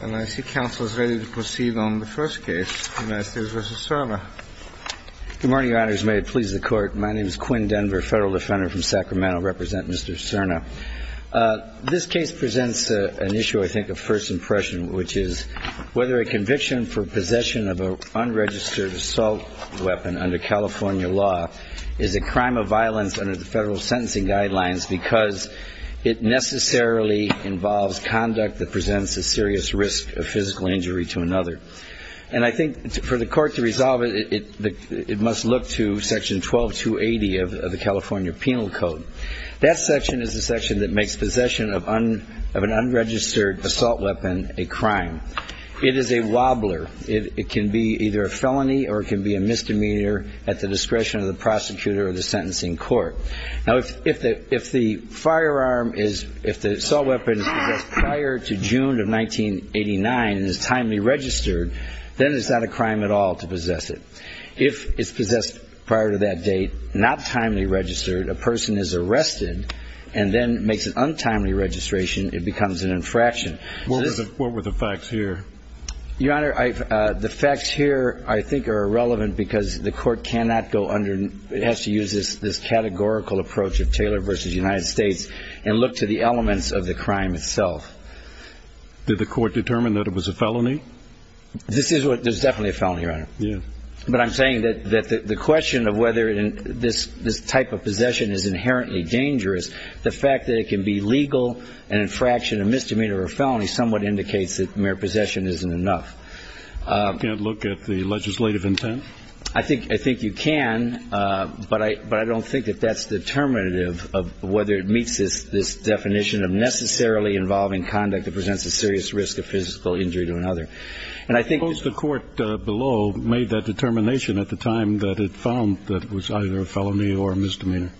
And I see counsel is ready to proceed on the first case, United States v. Serna. Good morning, Your Honors. May it please the Court. My name is Quinn Denver, federal defender from Sacramento. I represent Mr. Serna. This case presents an issue, I think, of first impression, which is whether a conviction for possession of an unregistered assault weapon under California law is a crime of violence under the federal sentencing guidelines because it necessarily involves conduct that presents a serious risk of physical injury to another. And I think for the Court to resolve it, it must look to Section 12280 of the California Penal Code. That section is the section that makes possession of an unregistered assault weapon a crime. It is a wobbler. It can be either a felony or it can be a misdemeanor at the discretion of the prosecutor or the sentencing court. Now, if the firearm is, if the assault weapon is possessed prior to June of 1989 and is timely registered, then it's not a crime at all to possess it. If it's possessed prior to that date, not timely registered, a person is arrested, and then makes an untimely registration, it becomes an infraction. What were the facts here? Your Honor, the facts here I think are irrelevant because the Court cannot go under, it has to use this categorical approach of Taylor v. United States and look to the elements of the crime itself. Did the Court determine that it was a felony? This is what, there's definitely a felony, Your Honor. Yeah. But I'm saying that the question of whether this type of possession is inherently dangerous, the fact that it can be legal, an infraction, a misdemeanor, or a felony somewhat indicates that mere possession isn't enough. Can't look at the legislative intent? I think you can, but I don't think that that's determinative of whether it meets this definition of necessarily involving conduct that presents a serious risk of physical injury to another. And I think the Court below made that determination at the time that it found that it was either a felony or a misdemeanor.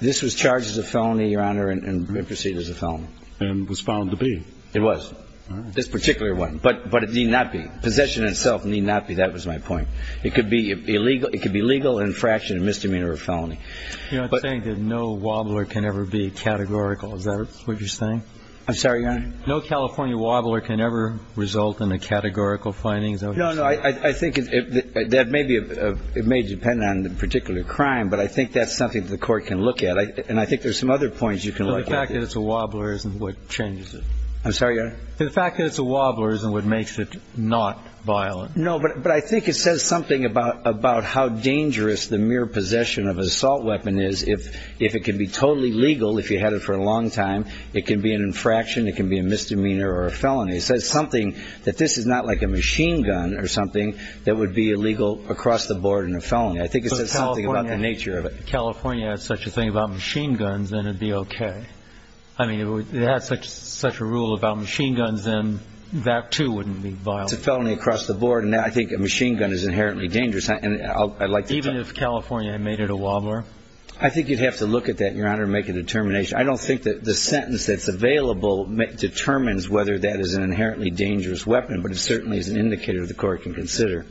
This was charged as a felony, Your Honor, and proceeded as a felony. And was found to be. It was. This particular one. But it need not be. Possession itself need not be. That was my point. It could be illegal, it could be legal, an infraction, a misdemeanor, or a felony. You know, I'm saying that no wobbler can ever be categorical. Is that what you're saying? I'm sorry, Your Honor. No California wobbler can ever result in a categorical finding. No, no. I think it may depend on the particular crime, but I think that's something that the Court can look at. And I think there's some other points you can look at. The fact that it's a wobbler isn't what changes it. I'm sorry, Your Honor? The fact that it's a wobbler isn't what makes it not violent. No, but I think it says something about how dangerous the mere possession of an assault weapon is. If it can be totally legal, if you had it for a long time, it can be an infraction, it can be a misdemeanor or a felony. It says something that this is not like a machine gun or something that would be illegal across the board in a felony. I think it says something about the nature of it. If California had such a thing about machine guns, then it would be okay. I mean, if it had such a rule about machine guns, then that, too, wouldn't be violent. It's a felony across the board, and I think a machine gun is inherently dangerous. Even if California made it a wobbler? I think you'd have to look at that, Your Honor, and make a determination. I don't think that the sentence that's available determines whether that is an inherently dangerous weapon, but it certainly is an indicator the Court can consider.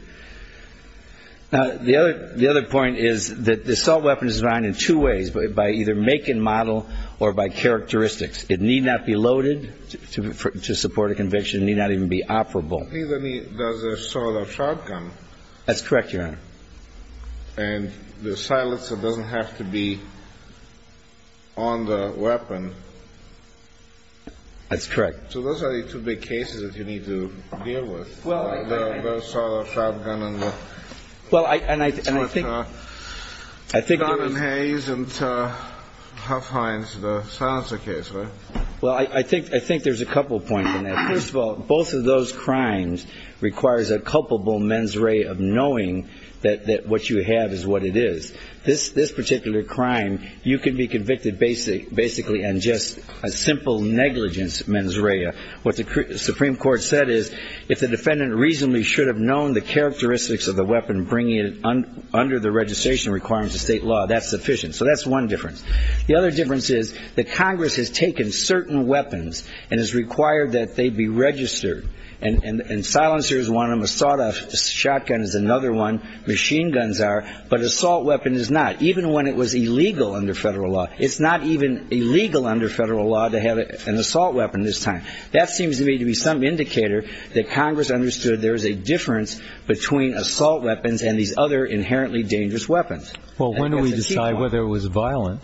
Now, the other point is that the assault weapon is designed in two ways, by either make and model or by characteristics. It need not be loaded to support a conviction. It need not even be operable. I think that means there's a sort of shotgun. That's correct, Your Honor. And the silencer doesn't have to be on the weapon. That's correct. So those are the two big cases that you need to deal with, the assault, the shotgun, and the gun and haze and Huff Hines, the silencer case, right? Well, I think there's a couple points on that. First of all, both of those crimes requires a culpable mens rea of knowing that what you have is what it is. This particular crime, you can be convicted basically on just a simple negligence mens rea. What the Supreme Court said is, if the defendant reasonably should have known the characteristics of the weapon bringing it under the registration requirements of state law, that's sufficient. So that's one difference. The other difference is that Congress has taken certain weapons and has required that they be registered. And silencer is one of them. A shotgun is another one. Machine guns are. But assault weapon is not. Even when it was illegal under federal law. It's not even illegal under federal law to have an assault weapon this time. That seems to me to be some indicator that Congress understood there is a difference between assault weapons and these other inherently dangerous weapons. Well, when do we decide whether it was violent?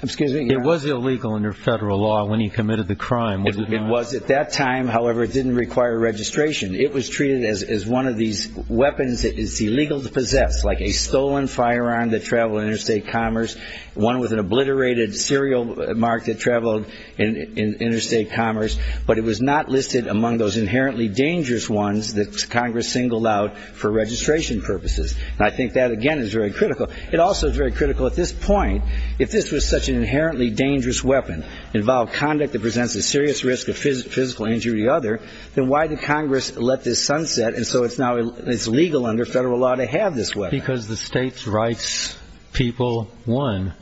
It was illegal under federal law when he committed the crime. It was at that time. However, it didn't require registration. It was treated as one of these weapons that is illegal to possess, like a stolen firearm that traveled in interstate commerce, one with an obliterated serial mark that traveled in interstate commerce. But it was not listed among those inherently dangerous ones that Congress singled out for registration purposes. And I think that, again, is very critical. It also is very critical at this point, if this was such an inherently dangerous weapon, involved conduct that presents a serious risk of physical injury to the other, then why did Congress let this sunset? And so it's now legal under federal law to have this weapon. Because the state's rights people won.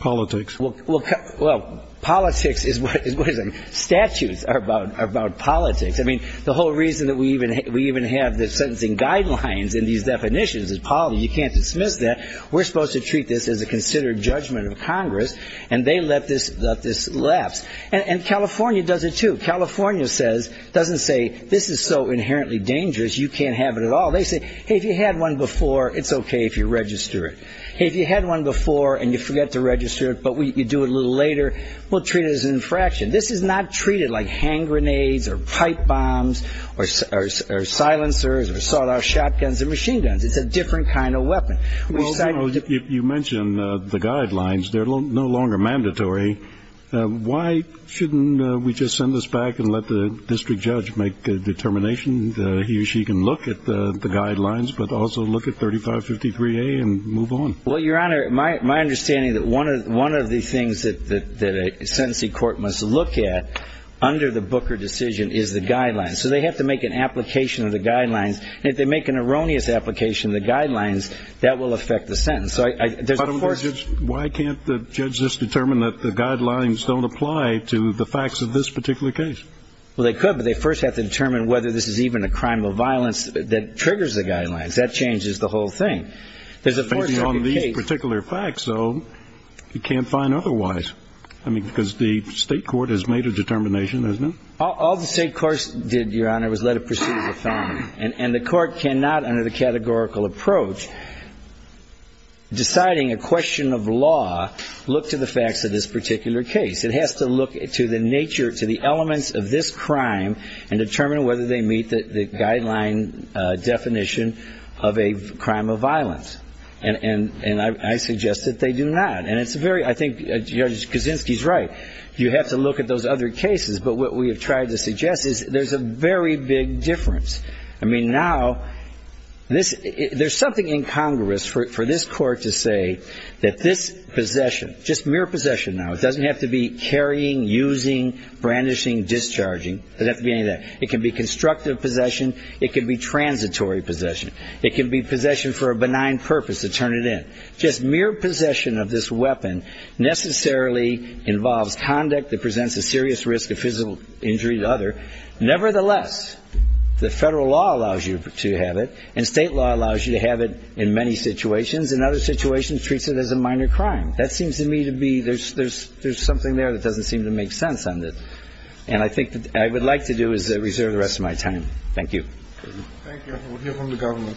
Politics. Well, politics is what it is. Statues are about politics. I mean, the whole reason that we even have the sentencing guidelines in these definitions is politics. You can't dismiss that. We're supposed to treat this as a considered judgment of Congress, and they let this lapse. And California does it too. California doesn't say this is so inherently dangerous you can't have it at all. They say, hey, if you had one before, it's okay if you register it. Hey, if you had one before and you forget to register it but you do it a little later, we'll treat it as an infraction. This is not treated like hand grenades or pipe bombs or silencers or sawed-off shotguns and machine guns. It's a different kind of weapon. You mentioned the guidelines. They're no longer mandatory. Why shouldn't we just send this back and let the district judge make a determination? He or she can look at the guidelines but also look at 3553A and move on. Well, Your Honor, my understanding is that one of the things that a sentencing court must look at under the Booker decision is the guidelines. So they have to make an application of the guidelines. And if they make an erroneous application of the guidelines, that will affect the sentence. Why can't the judge just determine that the guidelines don't apply to the facts of this particular case? Well, they could, but they first have to determine whether this is even a crime of violence that triggers the guidelines. That changes the whole thing. Based on these particular facts, though, you can't find otherwise. I mean, because the state court has made a determination, hasn't it? All the state courts did, Your Honor, was let it proceed as a felony. And the court cannot, under the categorical approach, deciding a question of law, look to the facts of this particular case. It has to look to the nature, to the elements of this crime and determine whether they meet the guideline definition of a crime of violence. And I suggest that they do not. And it's very ‑‑ I think Judge Kaczynski is right. You have to look at those other cases. But what we have tried to suggest is there's a very big difference. I mean, now, there's something incongruous for this court to say that this possession, just mere possession now, it doesn't have to be carrying, using, brandishing, discharging. It doesn't have to be any of that. It can be constructive possession. It can be transitory possession. It can be possession for a benign purpose to turn it in. Just mere possession of this weapon necessarily involves conduct that presents a serious risk of physical injury to the other. Nevertheless, the federal law allows you to have it, and state law allows you to have it in many situations, and other situations treats it as a minor crime. That seems to me to be there's something there that doesn't seem to make sense. And I think what I would like to do is reserve the rest of my time. Thank you. Thank you. We'll hear from the government.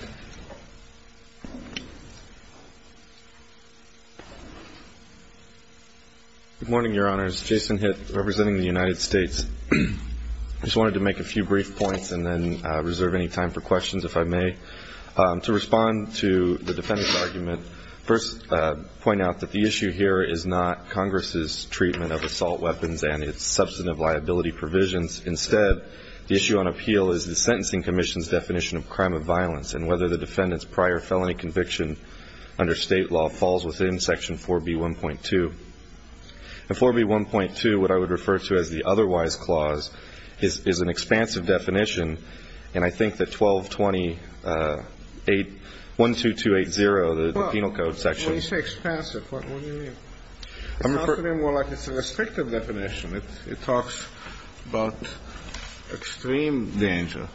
Good morning, Your Honors. Jason Hitt, representing the United States. I just wanted to make a few brief points and then reserve any time for questions, if I may. To respond to the defendant's argument, first point out that the issue here is not Congress's treatment of assault weapons and its substantive liability provisions. Instead, the issue on appeal is the Sentencing Commission's definition of crime of violence and whether the defendant's prior felony conviction under state law falls within Section 4B.1.2. In 4B.1.2, what I would refer to as the otherwise clause is an expansive definition, and I think that 1.2.2.8.0, the penal code section. When you say expansive, what do you mean? It sounds to me more like it's a restrictive definition. It talks about extreme danger.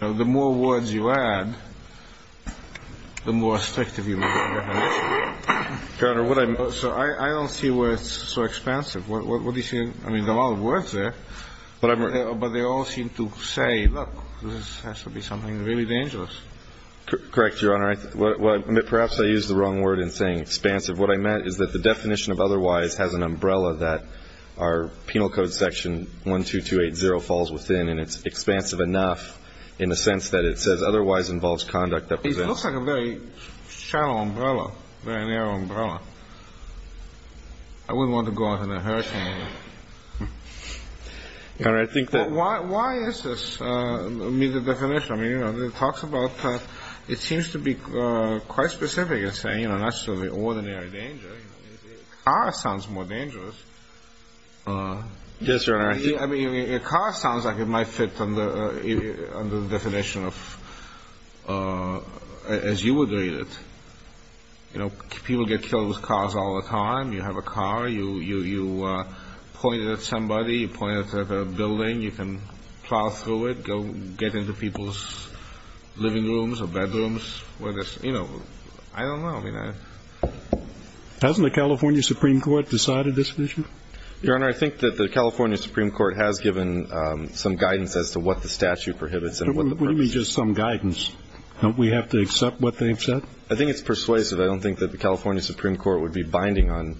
The more words you add, the more restrictive you make it. Your Honor, I don't see where it's so expansive. What do you see? I mean, there are a lot of words there. But they all seem to say, look, this has to be something really dangerous. Correct, Your Honor. Perhaps I used the wrong word in saying expansive. What I meant is that the definition of otherwise has an umbrella that our penal code section 1.2.2.8.0 falls within, and it's expansive enough in the sense that it says otherwise involves conduct that presents. It looks like a very shallow umbrella, very narrow umbrella. I wouldn't want to go out on a hurricane. Your Honor, I think that. Why is this, I mean, the definition? I mean, it talks about, it seems to be quite specific in saying not necessarily ordinary danger. A car sounds more dangerous. Yes, Your Honor. I mean, a car sounds like it might fit under the definition of, as you would read it. You know, people get killed with cars all the time. You have a car. You point it at somebody. You point it at a building. You can plow through it, get into people's living rooms or bedrooms. You know, I don't know. Hasn't the California Supreme Court decided this issue? Your Honor, I think that the California Supreme Court has given some guidance as to what the statute prohibits and what the purpose is. What do you mean just some guidance? Don't we have to accept what they've said? I think it's persuasive. I don't think that the California Supreme Court would be binding on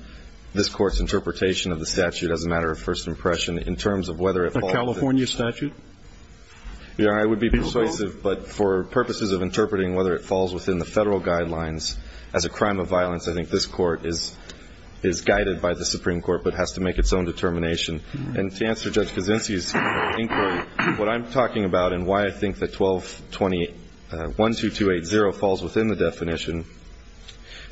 this Court's interpretation of the statute as a matter of first impression in terms of whether it falls. A California statute? Your Honor, I would be persuasive. But for purposes of interpreting whether it falls within the federal guidelines as a crime of violence, I think this Court is guided by the Supreme Court but has to make its own determination. And to answer Judge Kuczynski's inquiry, what I'm talking about and why I think that 1220 12280 falls within the definition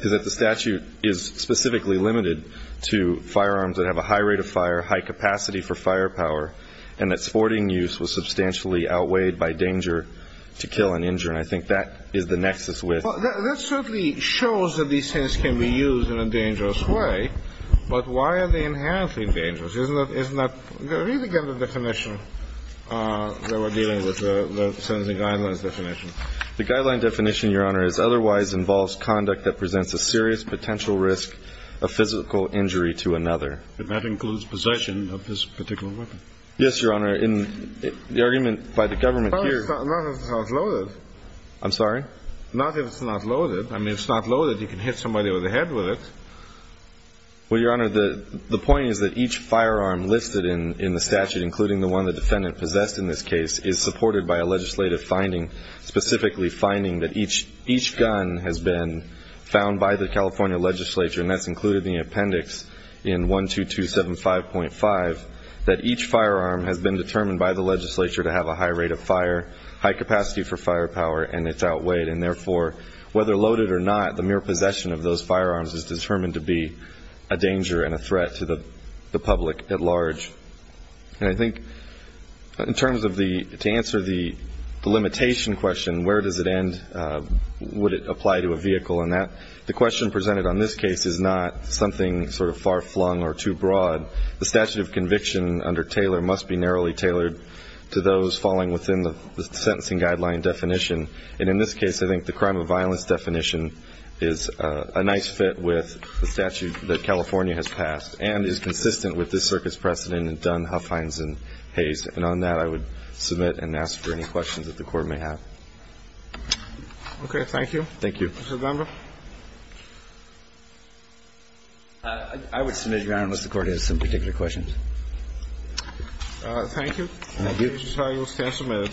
is that the statute is specifically limited to firearms that have a high rate of fire, high capacity for firepower, and that sporting use was substantially outweighed by danger to kill and injure. And I think that is the nexus with the statute. Well, that certainly shows that these things can be used in a dangerous way. But why are they inherently dangerous? Read again the definition that we're dealing with, the sentencing guidelines definition. The guideline definition, Your Honor, is otherwise involves conduct that presents a serious potential risk of physical injury to another. And that includes possession of this particular weapon? Yes, Your Honor. In the argument by the government here. Not if it's not loaded. I'm sorry? Not if it's not loaded. I mean, if it's not loaded, you can hit somebody with a head with it. Well, Your Honor, the point is that each firearm listed in the statute, including the one the defendant possessed in this case, is supported by a legislative finding, specifically finding that each gun has been found by the California legislature, and that's included in the appendix in 12275.5, that each firearm has been determined by the legislature to have a high rate of fire, high capacity for firepower, and it's outweighed. And therefore, whether loaded or not, the mere possession of those firearms is determined to be a danger and a threat to the public at large. And I think in terms of the, to answer the limitation question, where does it end? Would it apply to a vehicle? The question presented on this case is not something sort of far-flung or too broad. The statute of conviction under Taylor must be narrowly tailored to those falling within the sentencing guideline definition. And in this case, I think the crime of violence definition is a nice fit with the statute that California has passed and is consistent with this circuit's precedent in Dunn, Huffines, and Hayes. And on that, I would submit and ask for any questions that the Court may have. Okay. Thank you. Thank you. Mr. Dunbar? I would submit, Your Honor, unless the Court has some particular questions. Thank you. Thank you. Mr. Talia, we'll stand submitted.